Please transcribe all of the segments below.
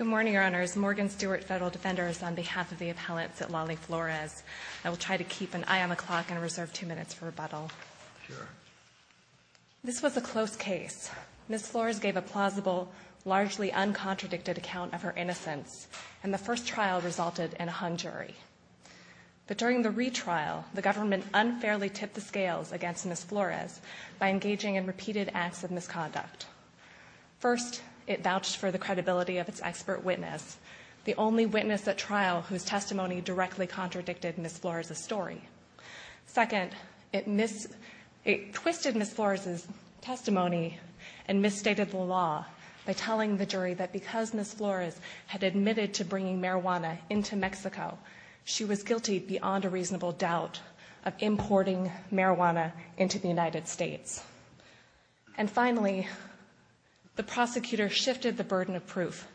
I will try to keep an eye on the clock and reserve two minutes for rebuttal. This was a close case. Ms. Flores gave a plausible, largely uncontradicted account of her innocence and the first trial resulted in a hung jury. But during the retrial, the government unfairly tipped the scales against Ms. Flores by engaging in repeated acts of misconduct. First, it vouched for the credibility of its expert witness, the only witness at trial whose testimony directly contradicted Ms. Flores' story. Second, it twisted Ms. Flores' testimony and misstated the law by telling the jury that because Ms. Flores had admitted to bringing marijuana into Mexico, she was guilty beyond a reasonable doubt of importing marijuana into the United States. And finally, the prosecutor shifted the burden of proof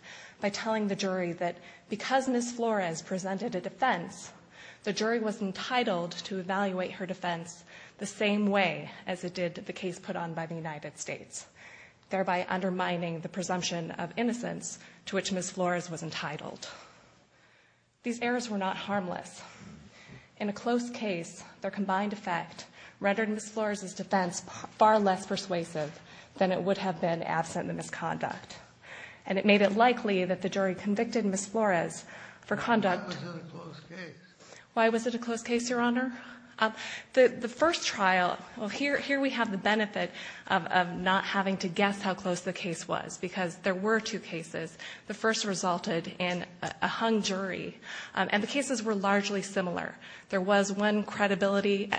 by telling the jury that because Ms. Flores presented a defense, the jury was entitled to evaluate her defense the same way as it did the case put on by the United States, thereby undermining the presumption of innocence to which Ms. Flores was entitled. These errors were not harmless. In a close case, their combined effect rendered Ms. Flores' defense far less persuasive than it would have been absent the misconduct, and it made it likely that the jury convicted Ms. Flores for conduct. Why was it a close case? Why was it a close case, Your Honor? The first trial, well, here we have the benefit of not having to guess how close the case was because there were two cases. The first resulted in a hung jury, and the cases were largely similar. There was one credibility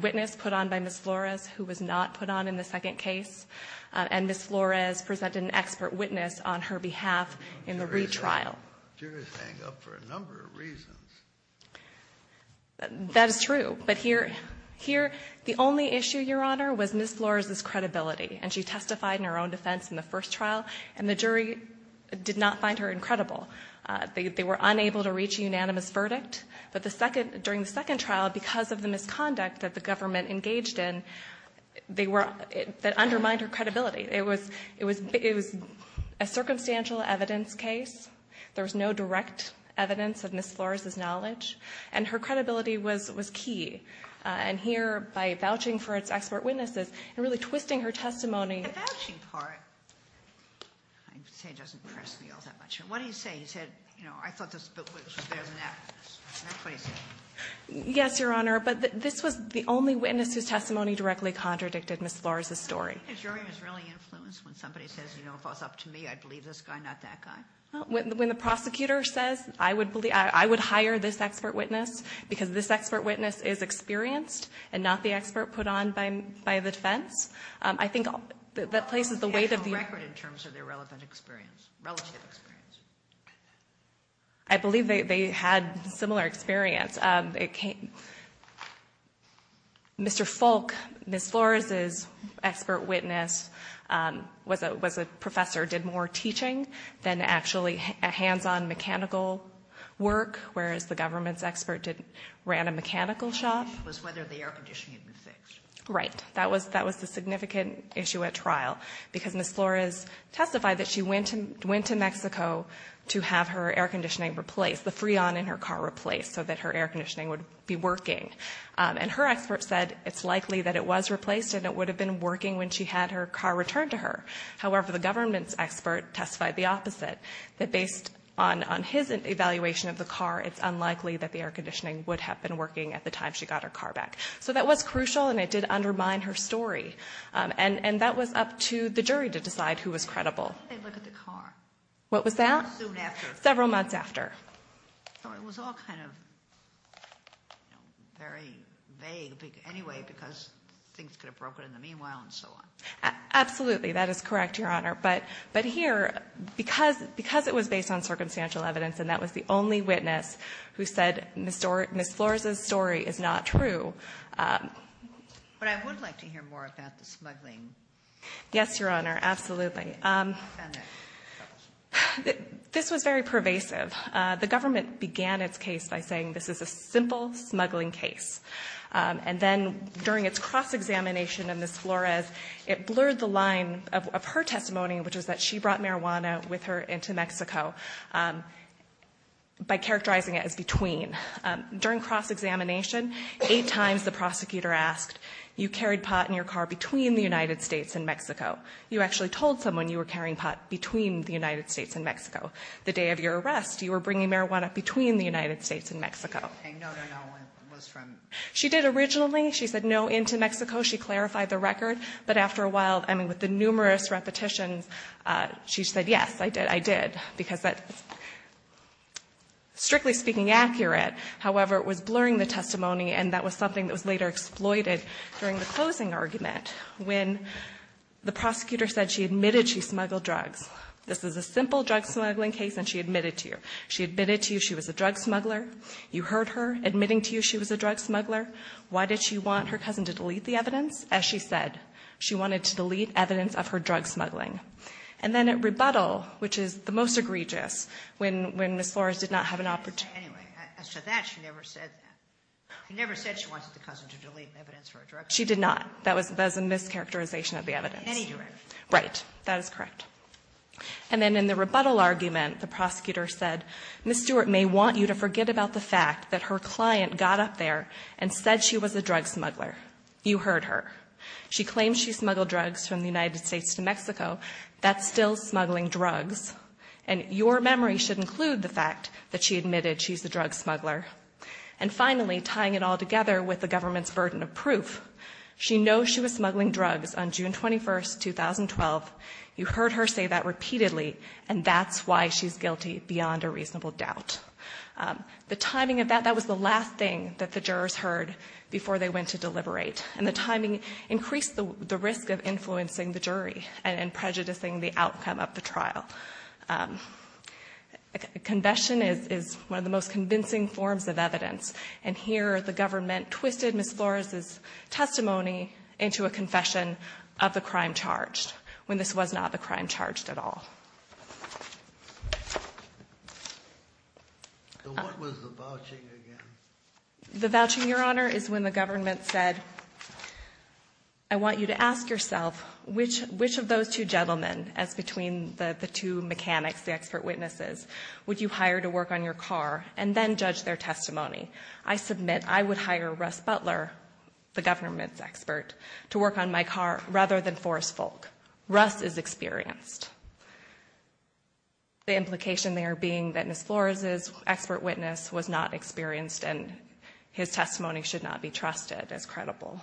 witness put on by Ms. Flores who was not put on in the second case, and Ms. Flores presented an expert witness on her behalf in the retrial. Juries hang up for a number of reasons. That is true. But here the only issue, Your Honor, was Ms. Flores' credibility, and she testified in her own defense in the first trial, and the jury did not find her incredible. They were unable to reach a unanimous verdict, but during the second trial, because of the misconduct that the government engaged in, that undermined her credibility. It was a circumstantial evidence case. There was no direct evidence of Ms. Flores' knowledge, and her credibility was key. And here, by vouching for its expert witnesses and really twisting her testimony. The vouching part, I would say, doesn't impress me all that much. What do you say? You said, you know, I thought this witness was better than that witness. Isn't that what you said? Yes, Your Honor, but this was the only witness whose testimony directly contradicted Ms. Flores' story. Do you think the jury was really influenced when somebody says, you know, if it was up to me, I'd believe this guy, not that guy? When the prosecutor says, I would believe, I would hire this expert witness, because this expert witness is experienced and not the expert put on by the defense. I think that places the weight of the record in terms of their relevant experience, relative experience. I believe they had similar experience. Mr. Folk, Ms. Flores' expert witness was a professor, did more teaching than actually hands-on mechanical work, whereas the government's expert ran a mechanical shop. It was whether the air conditioning had been fixed. Right. That was the significant issue at trial, because Ms. Flores testified that she went to Mexico to have her air conditioning replaced, the Freon in her car replaced, so that her air conditioning would be working. And her expert said it's likely that it was replaced and it would have been working when she had her car returned to her. However, the government's expert testified the opposite, that based on his evaluation of the car, it's unlikely that the air conditioning would have been working at the time she got her car back. So that was crucial, and it did undermine her story. And that was up to the jury to decide who was credible. They looked at the car. What was that? Soon after. So it was all kind of very vague, anyway, because things could have broken in the meanwhile and so on. Absolutely. That is correct, Your Honor. But here, because it was based on circumstantial evidence and that was the only witness who said Ms. Flores' story is not true. But I would like to hear more about the smuggling. Yes, Your Honor. Absolutely. This was very pervasive. The government began its case by saying this is a simple smuggling case. And then during its cross-examination of Ms. Flores, it blurred the line of her testimony, which is that she brought marijuana with her into Mexico, by characterizing it as between. During cross-examination, eight times the prosecutor asked, you carried pot in your car between the United States and Mexico. You actually told someone you were carrying pot between the United States and Mexico. The day of your arrest, you were bringing marijuana between the United States and Mexico. And no, no, no, it was from? She did originally. She said no, into Mexico. She clarified the record. But after a while, I mean, with the numerous repetitions, she said, yes, I did. I did. Because that's, strictly speaking, accurate. However, it was blurring the testimony, and that was something that was later exploited during the closing argument, when the prosecutor said she admitted she smuggled drugs. This is a simple drug smuggling case, and she admitted to you. She admitted to you she was a drug smuggler. You heard her admitting to you she was a drug smuggler. Why did she want her cousin to delete the evidence? As she said, she wanted to delete evidence of her drug smuggling. And then at rebuttal, which is the most egregious, when Ms. Flores did not have an opportunity to do that. She never said that. She never said she wanted the cousin to delete evidence of her drug smuggling. She did not. That was a mischaracterization of the evidence. In any direction. Right. That is correct. And then in the rebuttal argument, the prosecutor said, Ms. Stewart may want you to forget about the fact that her client got up there and said she was a drug smuggler. You heard her. She claims she smuggled drugs from the United States to Mexico. That's still smuggling drugs. And your memory should include the fact that she admitted she's a drug smuggler. And finally, tying it all together with the government's burden of proof, she knows she was smuggling drugs on June 21st, 2012. You heard her say that repeatedly. And that's why she's guilty beyond a reasonable doubt. The timing of that, that was the last thing that the jurors heard before they went to deliberate. And the timing increased the risk of influencing the jury and prejudicing the outcome of the trial. A confession is one of the most convincing forms of evidence. And here the government twisted Ms. Flores' testimony into a confession of the crime charged, when this was not the crime charged at all. So what was the vouching again? The vouching, Your Honor, is when the government said, I want you to ask yourself which of those two gentlemen, as between the two mechanics, the expert witnesses, would you hire to work on your car and then judge their testimony? I submit I would hire Russ Butler, the government's expert, to work on my car rather than Forrest Folk. Russ is experienced. The implication there being that Ms. Flores' expert witness was not experienced and his testimony should not be trusted as credible.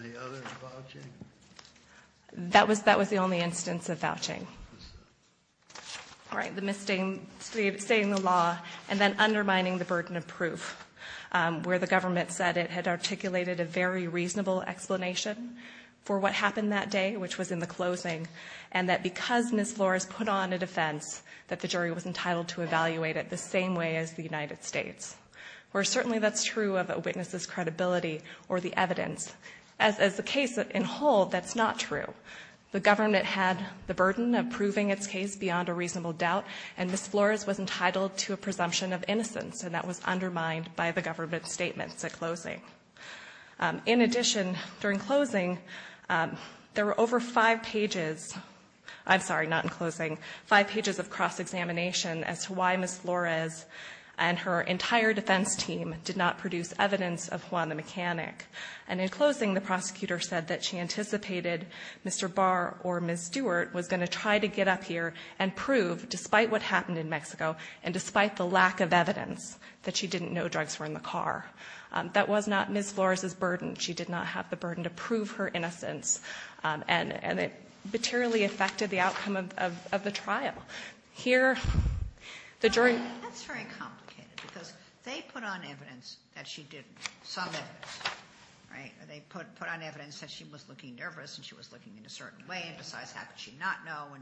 Any other vouching? That was the only instance of vouching. All right, the misstating the law and then undermining the burden of proof, where the government said it had articulated a very reasonable explanation for what happened that day, which was in the closing, and that because Ms. Flores put on a jury, was entitled to evaluate it the same way as the United States. Where certainly that's true of a witness's credibility or the evidence. As the case in whole, that's not true. The government had the burden of proving its case beyond a reasonable doubt, and Ms. Flores was entitled to a presumption of innocence, and that was undermined by the government's statements at closing. In addition, during closing, there were over five pages, I'm sorry, not in closing, five pages of cross-examination as to why Ms. Flores and her entire defense team did not produce evidence of Juana Mechanic. And in closing, the prosecutor said that she anticipated Mr. Barr or Ms. Stewart was going to try to get up here and prove, despite what happened in Mexico, and despite the lack of evidence, that she didn't know drugs were in the car. That was not Ms. Flores' burden. She did not have the burden to prove her innocence. And it materially affected the outcome of the trial. Here, the jury. That's very complicated because they put on evidence that she didn't, some evidence. They put on evidence that she was looking nervous and she was looking in a certain way, and besides, how could she not know,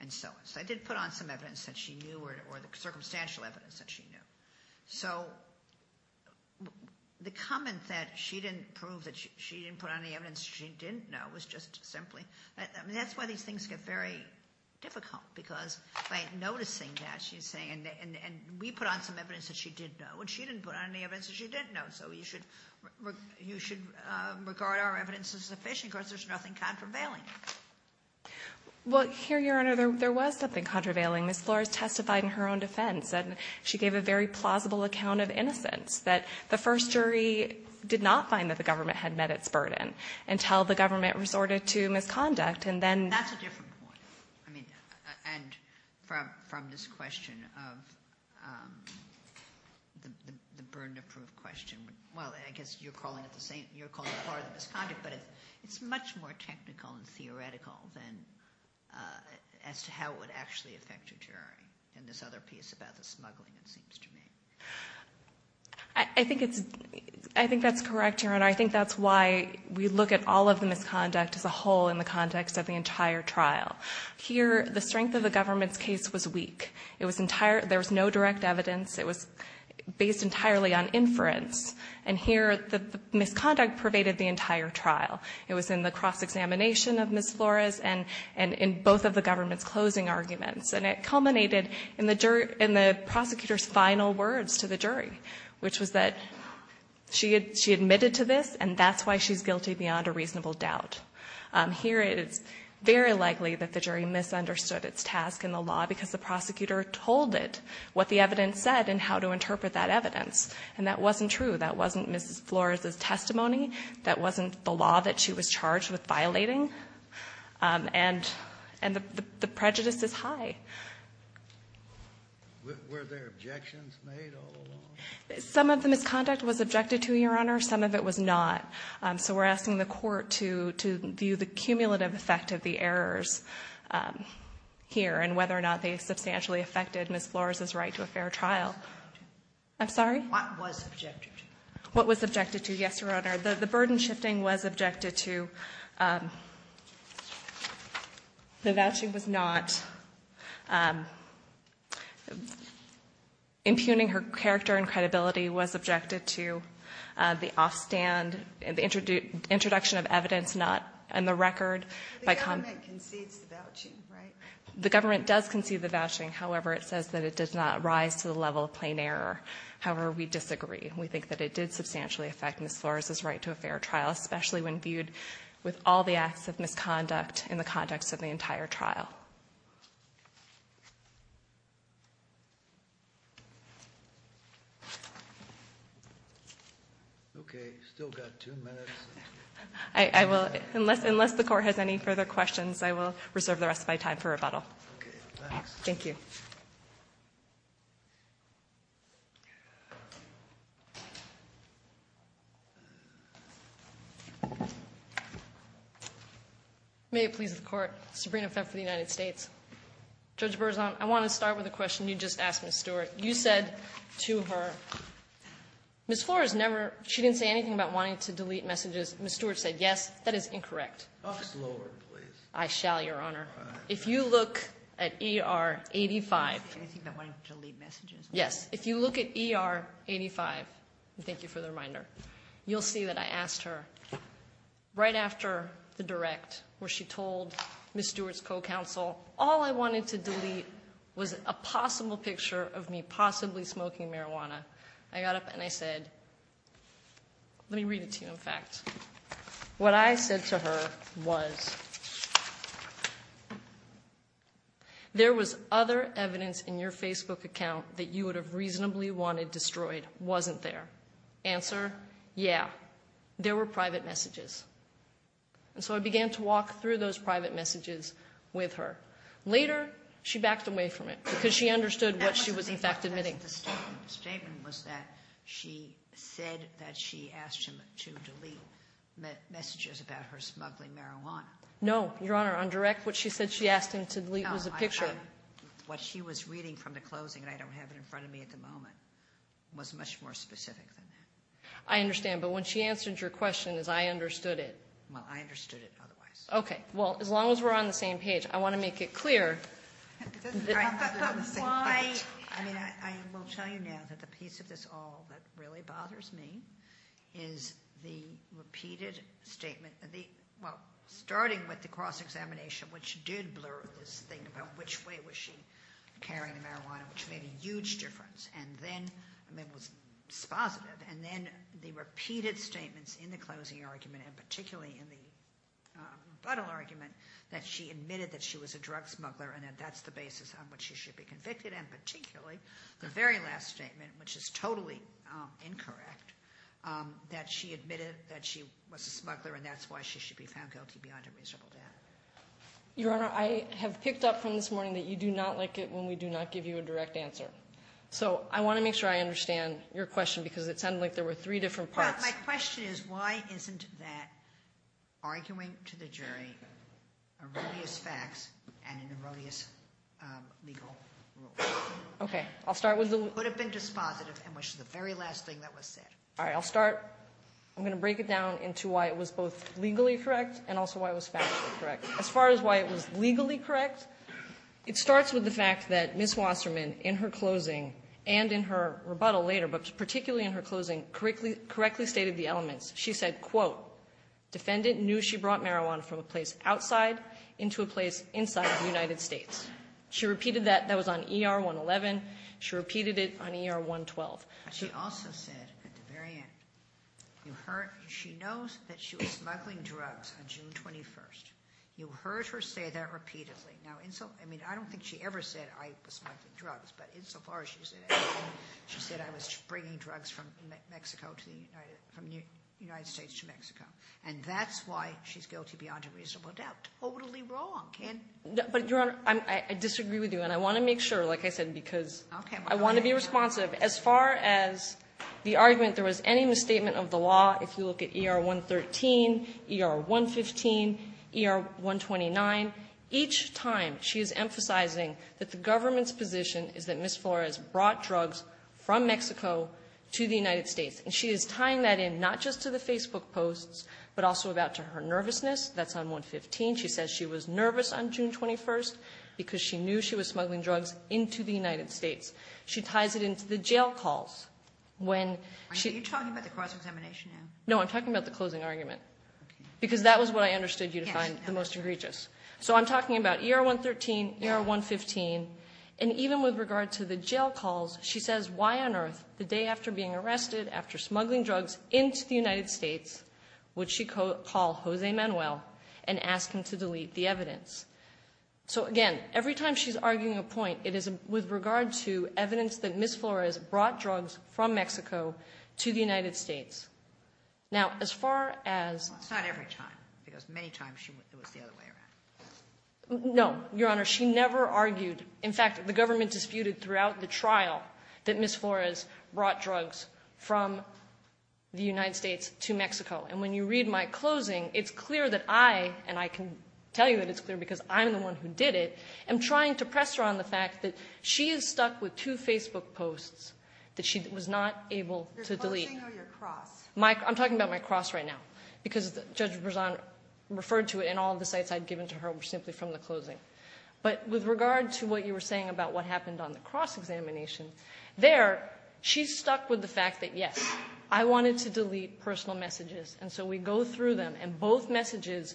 and so on. So they did put on some evidence that she knew or the circumstantial evidence that she knew. So the comment that she didn't prove that she didn't put on any evidence that she didn't know was just simply, I mean, that's why these things get very difficult, because by noticing that, she's saying, and we put on some evidence that she did know, and she didn't put on any evidence that she didn't know. So you should regard our evidence as sufficient because there's nothing contravailing. Well, here, Your Honor, there was something contravailing. Ms. Flores testified in her own defense, and she gave a very plausible account of innocence, that the first jury did not find that the government had met its burden until the government resorted to misconduct, and then. That's a different point. I mean, and from this question of the burden to prove question, well, I guess you're calling it part of the misconduct, but it's much more technical and theoretical than as to how it would actually affect your jury in this other piece about the smuggling, it seems to me. I think that's correct, Your Honor. I think that's why we look at all of the misconduct as a whole in the context of the entire trial. Here, the strength of the government's case was weak. There was no direct evidence. It was based entirely on inference. And here, the misconduct pervaded the entire trial. It was in the cross-examination of Ms. Flores and in both of the government's closing arguments. And it culminated in the prosecutor's final words to the jury, which was that she admitted to this, and that's why she's guilty beyond a reasonable doubt. Here, it is very likely that the jury misunderstood its task in the law because the prosecutor told it what the evidence said and how to interpret that evidence. And that wasn't true. That wasn't Ms. Flores' testimony. That wasn't the law that she was charged with violating. And the prejudice is high. Were there objections made all along? Some of the misconduct was objected to, Your Honor. Some of it was not. So we're asking the Court to view the cumulative effect of the errors here and whether or not they substantially affected Ms. Flores' right to a fair trial. I'm sorry? What was objected to. What was objected to, yes, Your Honor. The burden shifting was objected to. The vouching was not. Impugning her character and credibility was objected to. The offstand, the introduction of evidence not in the record. The government concedes the vouching, right? The government does concede the vouching. However, it says that it does not rise to the level of plain error. However, we disagree. We think that it did substantially affect Ms. Flores' right to a fair trial, especially when viewed with all the acts of misconduct in the context of the entire trial. I will, unless the Court has any further questions, I will reserve the rest of my time for rebuttal. Thank you. May it please the Court. Sabrina Pfeffer, United States. Judge Berzon, I want to start with a question you just asked Ms. Stewart. You said to her, Ms. Flores never, she didn't say anything about wanting to delete messages. Ms. Stewart said yes. That is incorrect. Talk slower, please. I shall, Your Honor. If you look at ER 85. Anything about wanting to delete messages? Yes. If you look at ER 85, and thank you for the reminder, you'll see that I asked her, right after the direct, where she told Ms. Stewart's co-counsel, all I wanted to delete was a possible picture of me possibly smoking marijuana. I got up and I said, let me read it to you in fact. What I said to her was, there was other evidence in your Facebook account that you would have reasonably wanted destroyed, wasn't there? Answer, yeah. There were private messages. And so I began to walk through those private messages with her. Later, she backed away from it because she understood what she was in fact admitting. The statement was that she said that she asked him to delete messages about her smuggling marijuana. No, Your Honor. On direct, what she said she asked him to delete was a picture. What she was reading from the closing, and I don't have it in front of me at the moment, was much more specific than that. I understand. But when she answered your question, is I understood it. Well, I understood it otherwise. Okay. Well, as long as we're on the same page. I want to make it clear. All right. Why, I mean, I will tell you now that the piece of this all that really bothers me is the repeated statement. Well, starting with the cross-examination, which did blur this thing about which way was she carrying the marijuana, which made a huge difference. And then, I mean, it was positive. And then the repeated statements in the closing argument, and particularly in the rebuttal argument, that she admitted that she was a drug smuggler and that that's the basis on which she should be convicted, and particularly the very last statement, which is totally incorrect, that she admitted that she was a smuggler and that's why she should be found guilty beyond a reasonable doubt. Your Honor, I have picked up from this morning that you do not like it when we do not give you a direct answer. So I want to make sure I understand your question because it sounded like there were three different parts. My question is, why isn't that arguing to the jury erroneous facts and an erroneous legal rule? Okay. I'll start with the... It would have been dispositive in which the very last thing that was said. All right. I'll start. I'm going to break it down into why it was both legally correct and also why it was factually correct. As far as why it was legally correct, it starts with the fact that Ms. Wasserman, in her closing and in her rebuttal later, but particularly in her closing, correctly stated the elements. She said, quote, defendant knew she brought marijuana from a place outside into a place inside the United States. She repeated that. That was on ER 111. She repeated it on ER 112. She also said at the very end, she knows that she was smuggling drugs on June 21st. You heard her say that repeatedly. Now, I mean, I don't think she ever said I was smuggling drugs, but insofar as she said that, she said I was bringing drugs from the United States to Mexico, and that's why she's guilty beyond a reasonable doubt. Totally wrong. But, Your Honor, I disagree with you, and I want to make sure, like I said, because I want to be responsive. As far as the argument there was any misstatement of the law, if you look at ER 113, ER 115, ER 129, each time she is emphasizing that the government's position is that Ms. Flores brought drugs from Mexico to the United States. And she is tying that in not just to the Facebook posts, but also about to her nervousness. That's on 115. She says she was nervous on June 21st because she knew she was smuggling drugs into the United States. She ties it into the jail calls. Are you talking about the cross-examination now? No, I'm talking about the closing argument, because that was what I understood you to find the most egregious. So I'm talking about ER 113, ER 115, and even with regard to the jail calls, she says, why on earth the day after being arrested after smuggling drugs into the United States would she call Jose Manuel and ask him to delete the evidence? So, again, every time she's arguing a point, it is with regard to evidence that Ms. Flores brought drugs from Mexico to the United States. Now, as far as— It's not every time, because many times it was the other way around. No, Your Honor. She never argued. In fact, the government disputed throughout the trial that Ms. Flores brought drugs from the United States to Mexico. And when you read my closing, it's clear that I—and I can tell you that it's clear because I'm the one who did it— am trying to press her on the fact that she is stuck with two Facebook posts that she was not able to delete. Your closing or your cross? I'm talking about my cross right now, because Judge Berzon referred to it, and all the sites I'd given to her were simply from the closing. But with regard to what you were saying about what happened on the cross-examination, there, she's stuck with the fact that, yes, I wanted to delete personal messages, and so we go through them, and both messages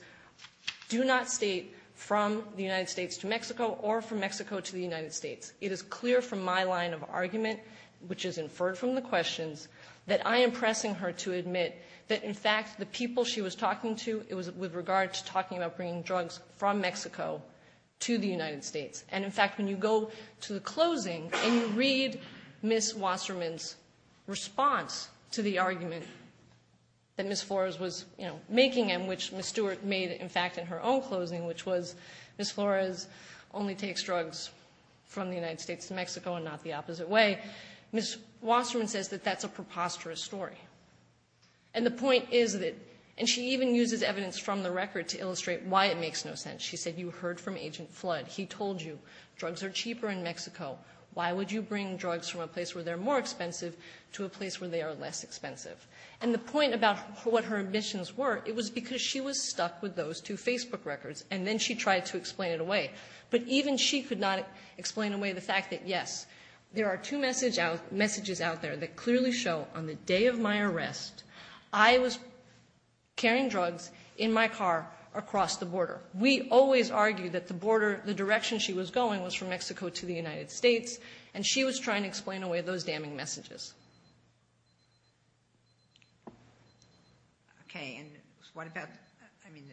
do not state from the United States to Mexico or from Mexico to the United States. It is clear from my line of argument, which is inferred from the questions, that I am pressing her to admit that, in fact, the people she was talking to, it was with regard to talking about bringing drugs from Mexico to the United States. And, in fact, when you go to the closing and you read Ms. Wasserman's response to the argument that Ms. Flores was, you know, making and which Ms. Stewart made, in fact, in her own closing, which was Ms. Flores only takes drugs from the United States to Mexico and not the opposite way, Ms. Wasserman says that that's a preposterous story. And the point is that—and she even uses evidence from the record to illustrate why it makes no sense. She said, you heard from Agent Flood. He told you drugs are cheaper in Mexico. Why would you bring drugs from a place where they're more expensive to a place where they are less expensive? And the point about what her admissions were, it was because she was stuck with those two Facebook records, and then she tried to explain it away. But even she could not explain away the fact that, yes, there are two messages out there that clearly show on the day of my arrest, I was carrying drugs in my car across the border. We always argue that the border, the direction she was going was from Mexico to the United States, and she was trying to explain away those damning messages. Okay. And what about — I mean,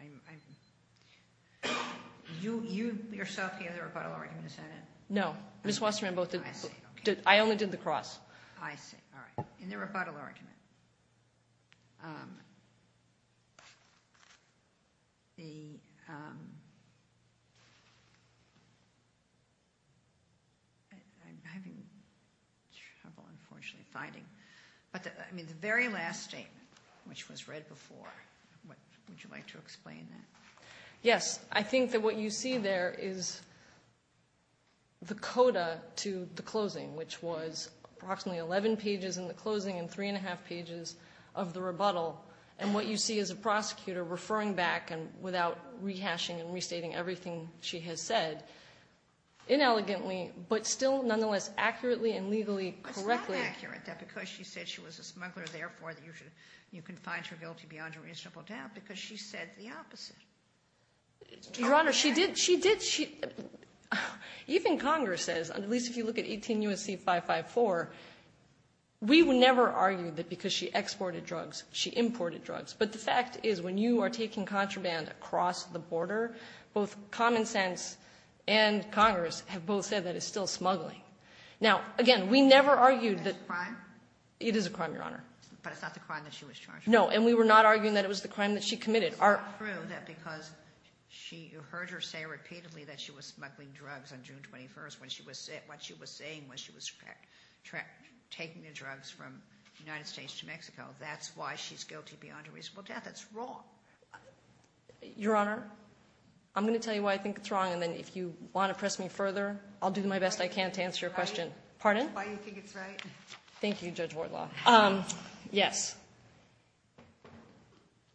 I'm — you yourself gave the rebuttal argument, is that it? No. Ms. Wasserman both did. I see. Okay. I only did the cross. I see. All right. In the rebuttal argument, the — I'm having trouble, unfortunately, finding. But, I mean, the very last statement, which was read before, would you like to explain that? Yes. I think that what you see there is the coda to the closing, which was approximately 11 pages in the closing and three and a half pages of the rebuttal. And what you see is a prosecutor referring back, and without rehashing and restating everything she has said, inelegantly, but still nonetheless accurately and legally correctly — It's not accurate, though, because she said she was a smuggler, you can find your guilty beyond a reasonable doubt, because she said the opposite. Your Honor, she did — she did — even Congress says, at least if you look at 18 U.S.C. 554, we would never argue that because she exported drugs, she imported drugs. But the fact is, when you are taking contraband across the border, both common sense and Congress have both said that it's still smuggling. Now, again, we never argued that — Is that a crime? It is a crime, Your Honor. But it's not the crime that she was charged with? No, and we were not arguing that it was the crime that she committed. It's not true that because she — you heard her say repeatedly that she was smuggling drugs on June 21st, when she was — what she was saying was she was taking the drugs from the United States to Mexico. That's why she's guilty beyond a reasonable doubt. That's wrong. Your Honor, I'm going to tell you why I think it's wrong, and then if you want to press me further, I'll do my best I can to answer your question. Pardon? Why you think it's right. Thank you, Judge Wardlaw. Yes.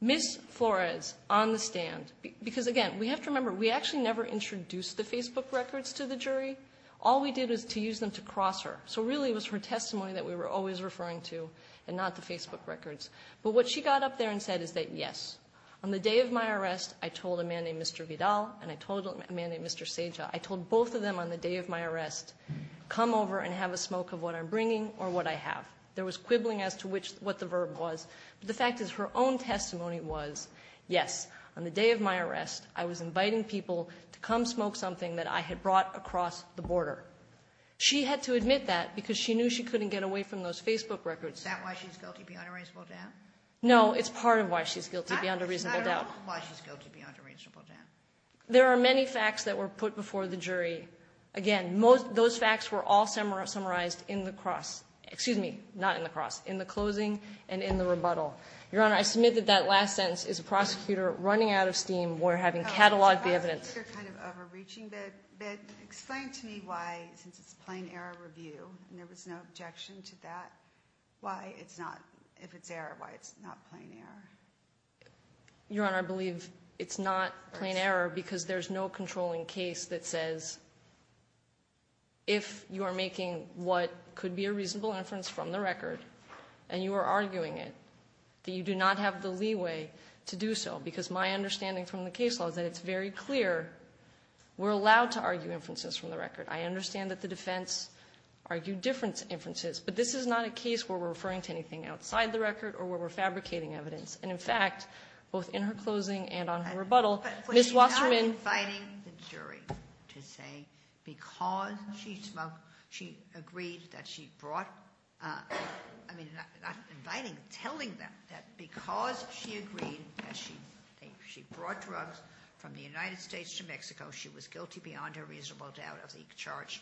Ms. Flores, on the stand — because, again, we have to remember, we actually never introduced the Facebook records to the jury. All we did was to use them to cross her. So, really, it was her testimony that we were always referring to and not the Facebook records. But what she got up there and said is that, yes, on the day of my arrest, I told a man named Mr. Vidal and I told a man named Mr. Seja, I told both of them on the day of my arrest, come over and have a smoke of what I'm bringing or what I have. There was quibbling as to which — what the verb was. But the fact is, her own testimony was, yes, on the day of my arrest, I was inviting people to come smoke something that I had brought across the border. She had to admit that because she knew she couldn't get away from those Facebook records. Is that why she's guilty beyond a reasonable doubt? No. It's part of why she's guilty beyond a reasonable doubt. It's not at all why she's guilty beyond a reasonable doubt. There are many facts that were put before the jury. Again, those facts were all summarized in the cross — excuse me, not in the cross, in the closing and in the rebuttal. Your Honor, I submit that that last sentence is a prosecutor running out of steam. We're having catalogued the evidence. It's a prosecutor kind of overreaching, but explain to me why, since it's a plain error review, and there was no objection to that, why it's not — if it's error, why it's not plain error? Your Honor, I believe it's not plain error because there's no controlling case that says, if you are making what could be a reasonable inference from the record and you are arguing it, that you do not have the leeway to do so. Because my understanding from the case law is that it's very clear we're allowed to argue inferences from the record. I understand that the defense argued different inferences, but this is not a case where we're referring to anything outside the record or where we're fabricating evidence. And, in fact, both in her closing and on her rebuttal, Ms. Wasserman — But you're not inviting the jury to say because she smoked, she agreed that she brought — I mean, not inviting, telling them that because she agreed that she brought drugs from the United States to Mexico, she was guilty beyond her reasonable doubt of the charge.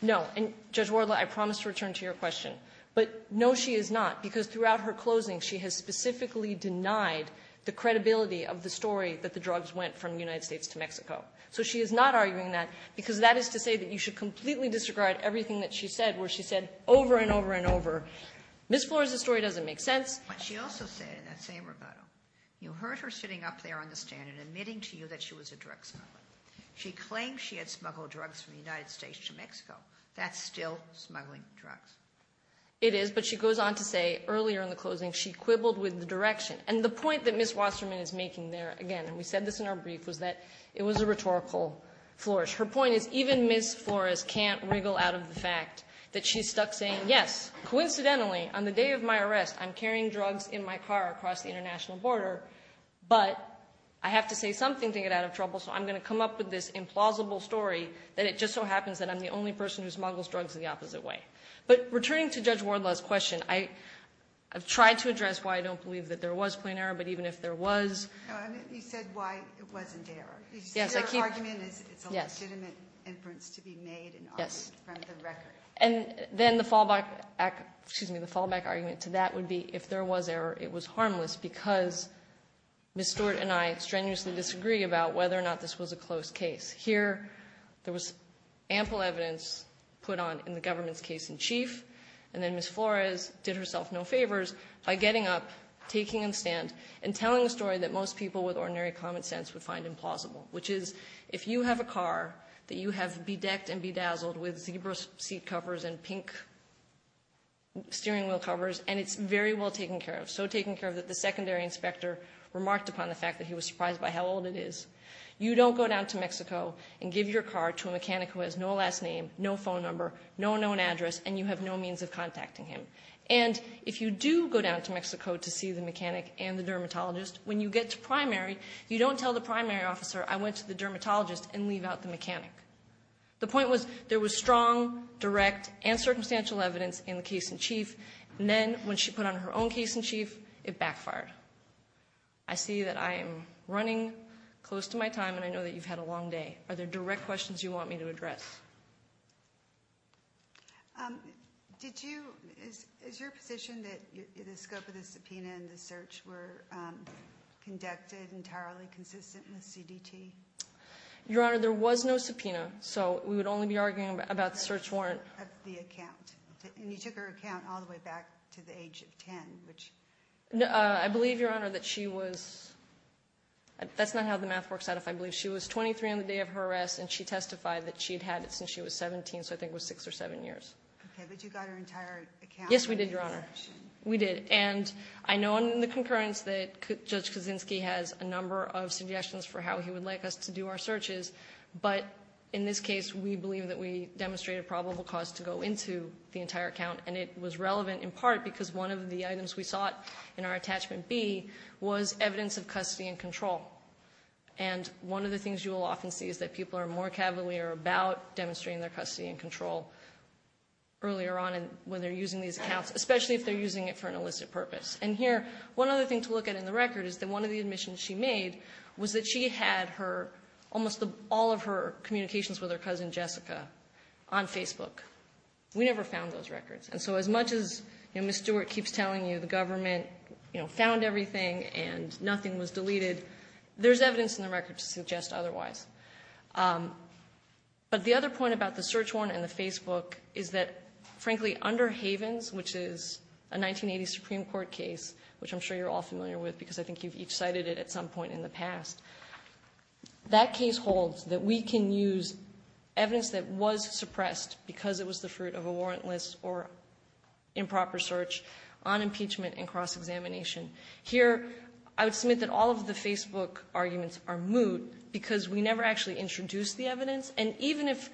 No. And, Judge Wardlaw, I promise to return to your question. But no, she is not, because throughout her closing she has specifically denied the credibility of the story that the drugs went from the United States to Mexico. So she is not arguing that because that is to say that you should completely disregard everything that she said, where she said over and over and over, Ms. Flores, the story doesn't make sense. But she also said in that same rebuttal, you heard her sitting up there on the stand and admitting to you that she was a drug smuggler. She claimed she had smuggled drugs from the United States to Mexico. That's still smuggling drugs. It is, but she goes on to say earlier in the closing she quibbled with the direction. And the point that Ms. Wasserman is making there, again, and we said this in our brief, was that it was a rhetorical flourish. Her point is even Ms. Flores can't wriggle out of the fact that she's stuck saying, yes, coincidentally, on the day of my arrest, I'm carrying drugs in my car across the international border, but I have to say something to get out of trouble, so I'm going to come up with this implausible story that it just so happens that I'm the only person who smuggles drugs the opposite way. But returning to Judge Wardlaw's question, I've tried to address why I don't believe that there was plain error, but even if there was. You said why it wasn't error. Your argument is it's a legitimate inference to be made and argued from the record. And then the fallback argument to that would be if there was error, it was harmless because Ms. Stewart and I strenuously disagree about whether or not this was a close case. Here there was ample evidence put on in the government's case in chief, and then Ms. Flores did herself no favors by getting up, taking a stand, and telling a story that most people with ordinary common sense would find implausible, which is if you have a car that you have bedecked and bedazzled with zebra seat covers and pink steering wheel covers, and it's very well taken care of, so taken care of that the secondary inspector remarked upon the fact that he was surprised by how old it is, you don't go down to Mexico and give your car to a mechanic who has no last name, no phone number, no known address, and you have no means of contacting him. And if you do go down to Mexico to see the mechanic and the dermatologist, when you get to primary, you don't tell the primary officer, I went to the dermatologist and leave out the mechanic. The point was there was strong, direct, and circumstantial evidence in the case in chief, and then when she put on her own case in chief, it backfired. I see that I am running close to my time, and I know that you've had a long day. Are there direct questions you want me to address? Is your position that the scope of the subpoena and the search were conducted entirely consistent with CDT? Your Honor, there was no subpoena, so we would only be arguing about the search warrant. And you took her account all the way back to the age of 10. I believe, Your Honor, that she was, that's not how the math works out, if I believe. She was 23 on the day of her arrest, and she testified that she had had it since she was 17, so I think it was six or seven years. Okay, but you got her entire account? Yes, we did, Your Honor. We did. And I know in the concurrence that Judge Kaczynski has a number of suggestions for how he would like us to do our searches, but in this case, we believe that we demonstrated probable cause to go into the entire account, and it was relevant in part because one of the items we sought in our attachment B was evidence of custody and control. And one of the things you will often see is that people are more cavalier about demonstrating their custody and control earlier on when they're using these accounts, especially if they're using it for an illicit purpose. And here, one other thing to look at in the record is that one of the admissions she made was that she had her almost all of her communications with her cousin Jessica on Facebook. We never found those records. And so as much as, you know, Ms. Stewart keeps telling you the government, you know, found everything and nothing was deleted, there's evidence in the record to suggest otherwise. But the other point about the search warrant and the Facebook is that, frankly, under Havens, which is a 1980 Supreme Court case, which I'm sure you're all familiar with because I think you've each cited it at some point in the past, that case holds that we can use evidence that was suppressed because it was the fruit of a warrantless or improper search on impeachment and cross-examination. Here, I would submit that all of the Facebook arguments are moot because we never actually introduced the evidence. And even if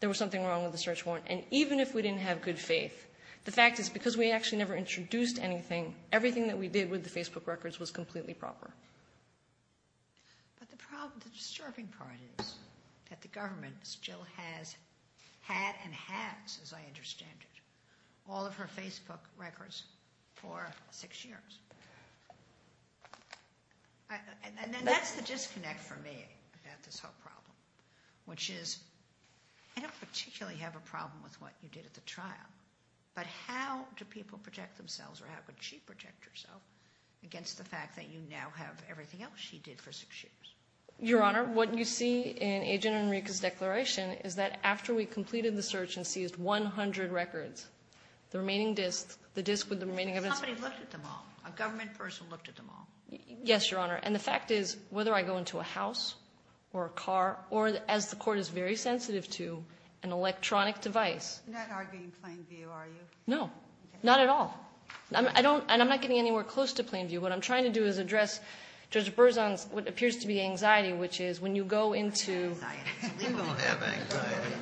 there was something wrong with the search warrant, and even if we didn't have good faith, the fact is because we actually never introduced anything, everything that we did with the Facebook records was completely proper. But the disturbing part is that the government still has had and has, as I understand it, all of her Facebook records for six years. And then that's the disconnect for me about this whole problem, which is I don't particularly have a problem with what you did at the trial, but how do people project themselves or how could she project herself against the fact that you now have everything else she did for six years? Your Honor, what you see in Agent Enrique's declaration is that after we completed the search and seized 100 records, the remaining disks, the disks with the remaining evidence Somebody looked at them all. A government person looked at them all. Yes, Your Honor. And the fact is, whether I go into a house or a car or, as the Court is very sensitive to, an electronic device You're not arguing plain view, are you? No. Not at all. I don't, and I'm not getting anywhere close to plain view. What I'm trying to do is address Judge Berzon's, what appears to be anxiety, which is when you go into We don't have anxiety.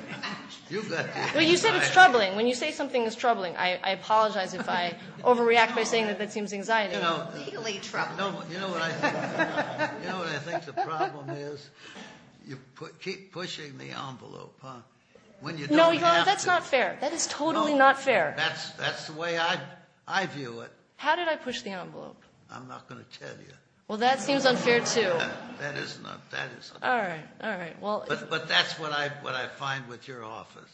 You've got the anxiety. Well, you said it's troubling. When you say something is troubling, I apologize if I overreact by saying that that seems anxiety. It's legally troubling. You know what I think the problem is? You keep pushing the envelope, huh? When you don't have to. No, Your Honor, that's not fair. That is totally not fair. That's the way I view it. How did I push the envelope? I'm not going to tell you. Well, that seems unfair, too. That is not fair. All right. All right. But that's what I find with your office.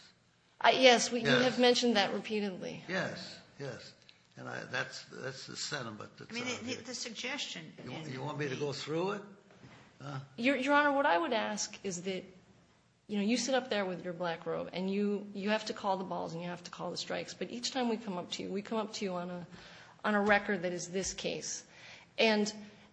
Yes, you have mentioned that repeatedly. Yes. Yes. And that's the sentiment that's out here. The suggestion is You want me to go through it? Your Honor, what I would ask is that, you know, you sit up there with your black robe, and you have to call the balls, and you have to call the strikes, but each time we come up to you, we come up to you on a record that is this case. And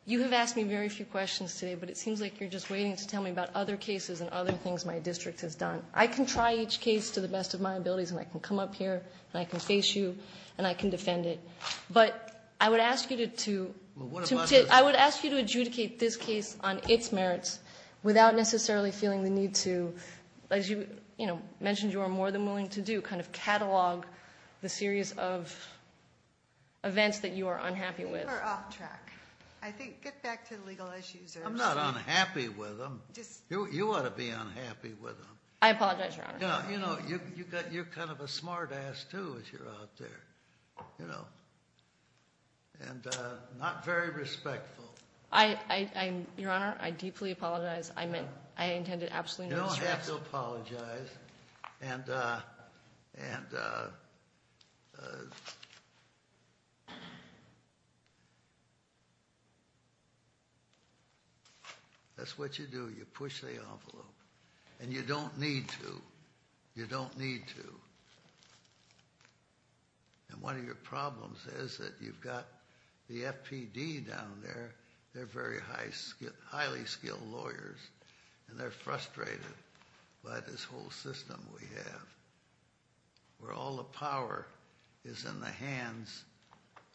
you have asked me very few questions today, but it seems like you're just waiting to tell me about other cases and other things my district has done. I can try each case to the best of my abilities, and I can come up here, and I can face you, and I can defend it. But I would ask you to adjudicate this case on its merits without necessarily feeling the need to, as you mentioned, you are more than willing to do, kind of catalog the series of events that you are unhappy with. I think we're off track. Get back to the legal issues. I'm not unhappy with them. You ought to be unhappy with them. I apologize, Your Honor. You know, you're kind of a smart ass, too, as you're out there, you know, and not very respectful. I, Your Honor, I deeply apologize. I intended absolutely no distress. You don't have to apologize. And that's what you do. You push the envelope. And you don't need to. You don't need to. And one of your problems is that you've got the FPD down there. They're very highly skilled lawyers. And they're frustrated by this whole system we have, where all the power is in the hands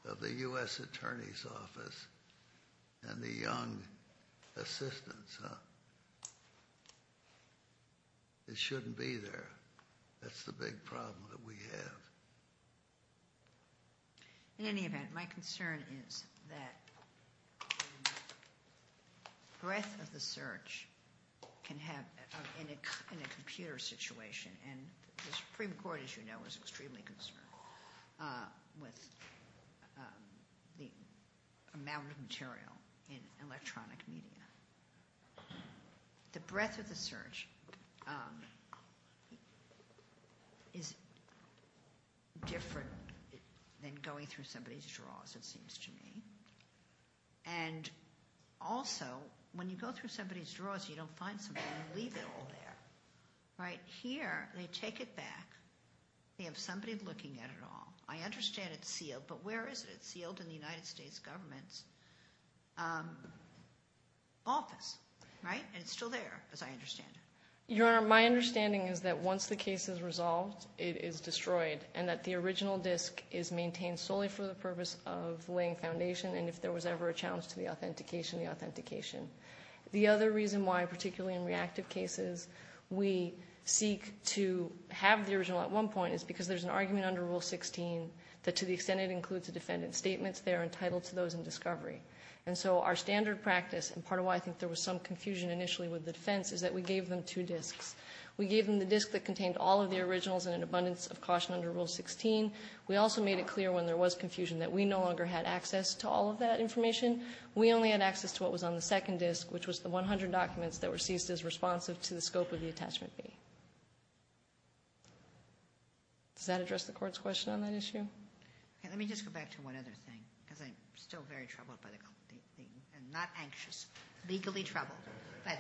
of the U.S. Attorney's Office and the young assistants. It shouldn't be there. That's the big problem that we have. In any event, my concern is that the breadth of the search can happen in a computer situation. And the Supreme Court, as you know, is extremely concerned with the amount of material in electronic media. The breadth of the search is different than going through somebody's drawers, it seems to me. And also, when you go through somebody's drawers, you don't find something. You leave it all there. Right here, they take it back. They have somebody looking at it all. I understand it's sealed. But where is it? It's sealed in the United States government's office. Right? And it's still there, as I understand it. Your Honor, my understanding is that once the case is resolved, it is destroyed. And that the original disk is maintained solely for the purpose of laying foundation. And if there was ever a challenge to the authentication, the authentication. The other reason why, particularly in reactive cases, we seek to have the original at one point is because there's an argument under Rule 16 that to the extent it includes a defendant's statements, they are entitled to those in discovery. And so our standard practice, and part of why I think there was some confusion initially with the defense, is that we gave them two disks. We gave them the disk that contained all of the originals and an abundance of caution under Rule 16. We also made it clear when there was confusion that we no longer had access to all of that information. We only had access to what was on the second disk, which was the 100 documents that were seized as responsive to the scope of the attachment B. Does that address the court's question on that issue? Okay, let me just go back to one other thing, because I'm still very troubled by the closing argument. I'm not anxious. Legally troubled by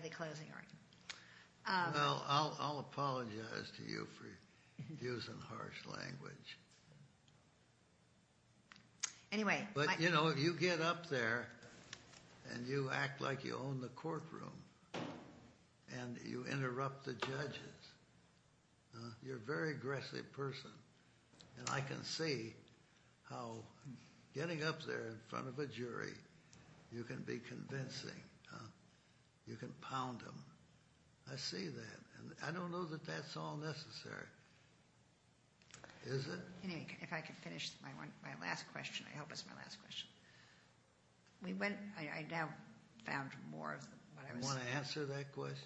the closing argument. Well, I'll apologize to you for using harsh language. Anyway. But, you know, you get up there and you act like you own the courtroom and you interrupt the judges. You're a very aggressive person, and I can see how getting up there in front of a jury, you can be convincing. You can pound them. I see that, and I don't know that that's all necessary. Is it? Anyway, if I could finish my last question. I hope it's my last question. I now found more of what I was saying. You want to answer that question?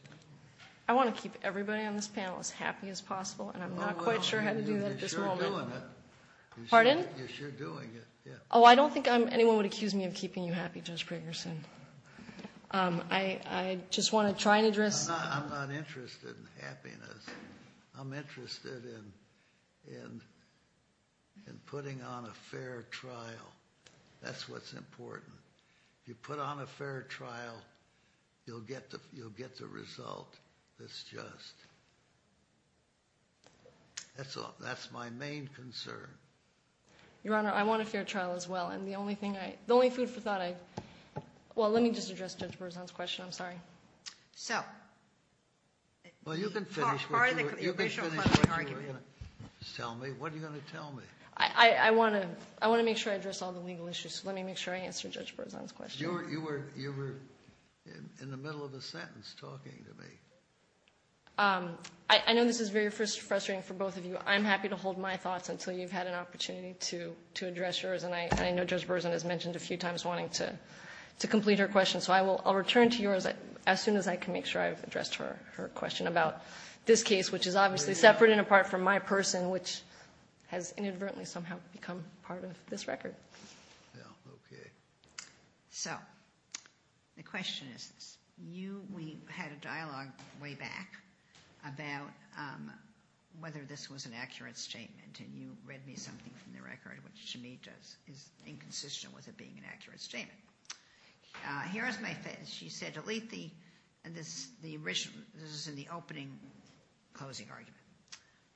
I want to keep everybody on this panel as happy as possible, and I'm not quite sure how to do that at this moment. Oh, well, you're sure doing it. Pardon? You're sure doing it, yeah. Oh, I don't think anyone would accuse me of keeping you happy, Judge Gregerson. I just want to try and address. I'm not interested in happiness. I'm interested in putting on a fair trial. That's what's important. If you put on a fair trial, you'll get the result that's just. That's my main concern. Your Honor, I want a fair trial as well, and the only food for thought I... Well, let me just address Judge Berzon's question. I'm sorry. So... Well, you can finish what you were going to tell me. What are you going to tell me? I want to make sure I address all the legal issues, so let me make sure I answer Judge Berzon's question. You were in the middle of a sentence talking to me. I know this is very frustrating for both of you. I'm happy to hold my thoughts until you've had an opportunity to address yours, and I know Judge Berzon has mentioned a few times wanting to complete her question, so I'll return to yours as soon as I can make sure I've addressed her question about this case, which is obviously separate and apart from my person, which has inadvertently somehow become part of this record. Yeah, okay. So the question is this. We had a dialogue way back about whether this was an accurate statement, and you read me something from the record which to me is inconsistent with it being an accurate statement. Here is my face. She said delete the, and this is in the opening closing argument.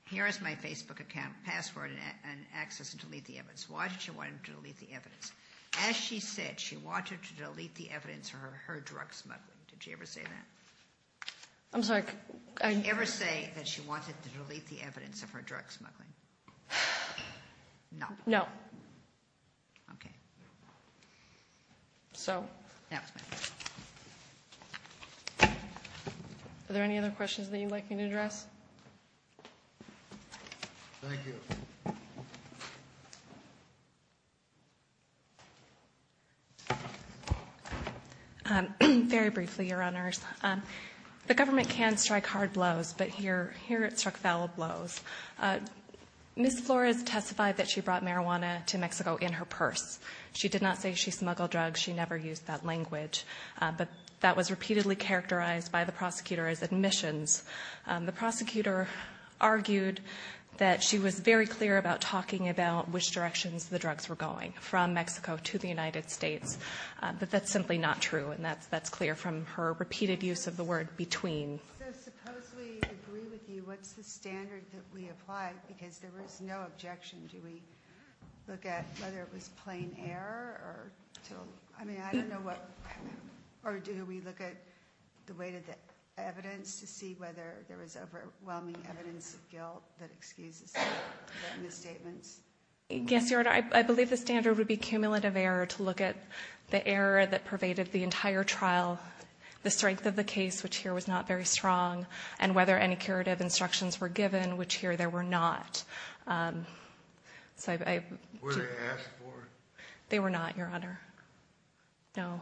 Here is my Facebook account password and access to delete the evidence. Why did she want him to delete the evidence? As she said, she wanted to delete the evidence of her drug smuggling. Did she ever say that? I'm sorry. Did she ever say that she wanted to delete the evidence of her drug smuggling? No. No. Okay. So are there any other questions that you'd like me to address? Thank you. Very briefly, Your Honors. The government can strike hard blows, but here it struck valid blows. Ms. Flores testified that she brought marijuana to Mexico in her purse. She did not say she smuggled drugs. She never used that language, but that was repeatedly characterized by the prosecutor as admissions. The prosecutor argued that she was very clear about talking about which directions the drugs were going, from Mexico to the United States, but that's simply not true, and that's clear from her repeated use of the word between. So suppose we agree with you. What's the standard that we apply? Because there was no objection. Do we look at whether it was plain error or to, I mean, I don't know what, or do we look at the weight of the evidence to see whether there was overwhelming evidence of guilt that excuses the misstatements? Yes, Your Honor. I believe the standard would be cumulative error to look at the error that pervaded the entire trial, the strength of the case, which here was not very strong, and whether any curative instructions were given, which here there were not. Were they asked for? They were not, Your Honor. No.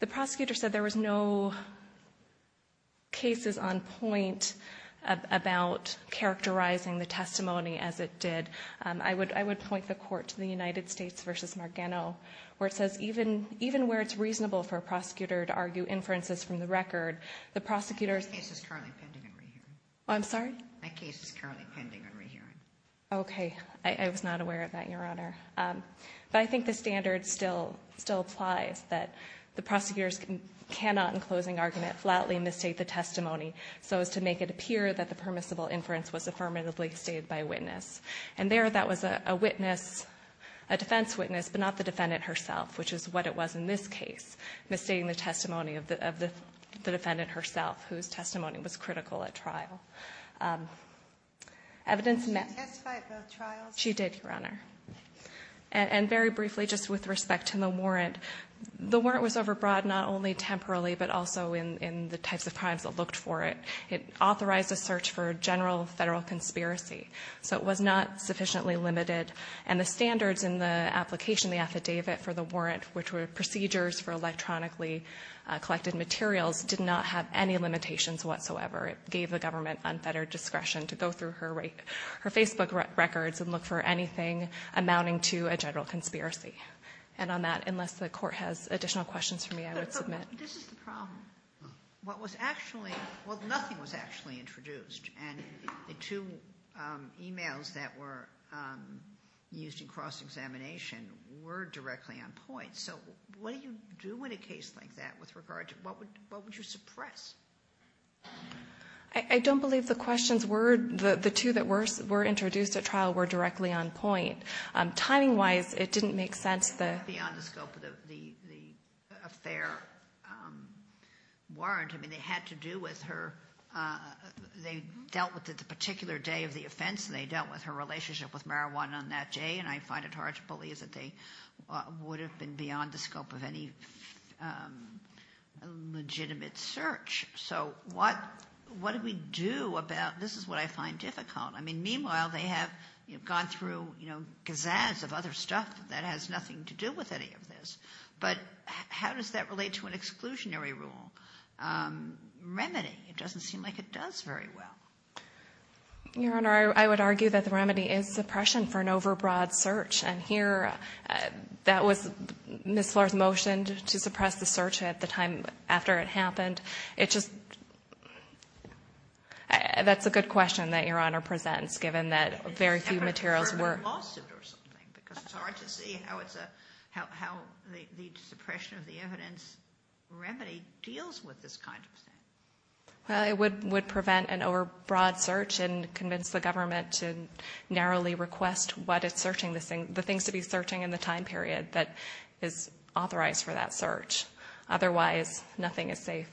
The prosecutor said there was no cases on point about characterizing the testimony as it did. I would point the Court to the United States v. Margano, where it says even where it's reasonable for a prosecutor to argue inferences from the record, the prosecutor's... That case is currently pending in re-hearing. I'm sorry? That case is currently pending in re-hearing. Okay. I was not aware of that, Your Honor. But I think the standard still applies, that the prosecutors cannot, in closing argument, flatly mistake the testimony so as to make it appear that the permissible inference was affirmatively stated by witness. And there, that was a witness, a defense witness, but not the defendant herself, which is what it was in this case, mistaking the testimony of the defendant herself, whose testimony was critical at trial. Evidence... Did she testify at both trials? She did, Your Honor. And very briefly, just with respect to the warrant, the warrant was overbroad not only temporarily, but also in the types of crimes that looked for it. It authorized a search for a general Federal conspiracy. So it was not sufficiently limited. And the standards in the application, the affidavit for the warrant, which were procedures for electronically collected materials, did not have any limitations whatsoever. It gave the government unfettered discretion to go through her Facebook records and look for anything amounting to a general conspiracy. And on that, unless the Court has additional questions for me, I would submit... But this is the problem. What was actually... Well, nothing was actually introduced. And the two e-mails that were used in cross-examination were directly on point. So what do you do in a case like that with regard to... What would you suppress? I don't believe the questions were... The two that were introduced at trial were directly on point. Timing-wise, it didn't make sense that... Warrant. I mean, they had to do with her... They dealt with it the particular day of the offense, and they dealt with her relationship with marijuana on that day. And I find it hard to believe that they would have been beyond the scope of any legitimate search. So what do we do about... This is what I find difficult. I mean, meanwhile, they have gone through gazaz of other stuff that has nothing to do with any of this. But how does that relate to an exclusionary rule? Remedy. It doesn't seem like it does very well. Your Honor, I would argue that the remedy is suppression for an overbroad search. And here, that was Ms. Flores' motion to suppress the search at the time after it happened. It just... That's a good question that Your Honor presents, given that very few materials were... Because it's hard to see how the suppression of the evidence remedy deals with this kind of thing. Well, it would prevent an overbroad search and convince the government to narrowly request what it's searching, the things to be searching in the time period that is authorized for that search. Otherwise, nothing is safe.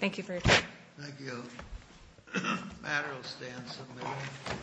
Thank you for your time. Thank you. The matter will stay on Sunday.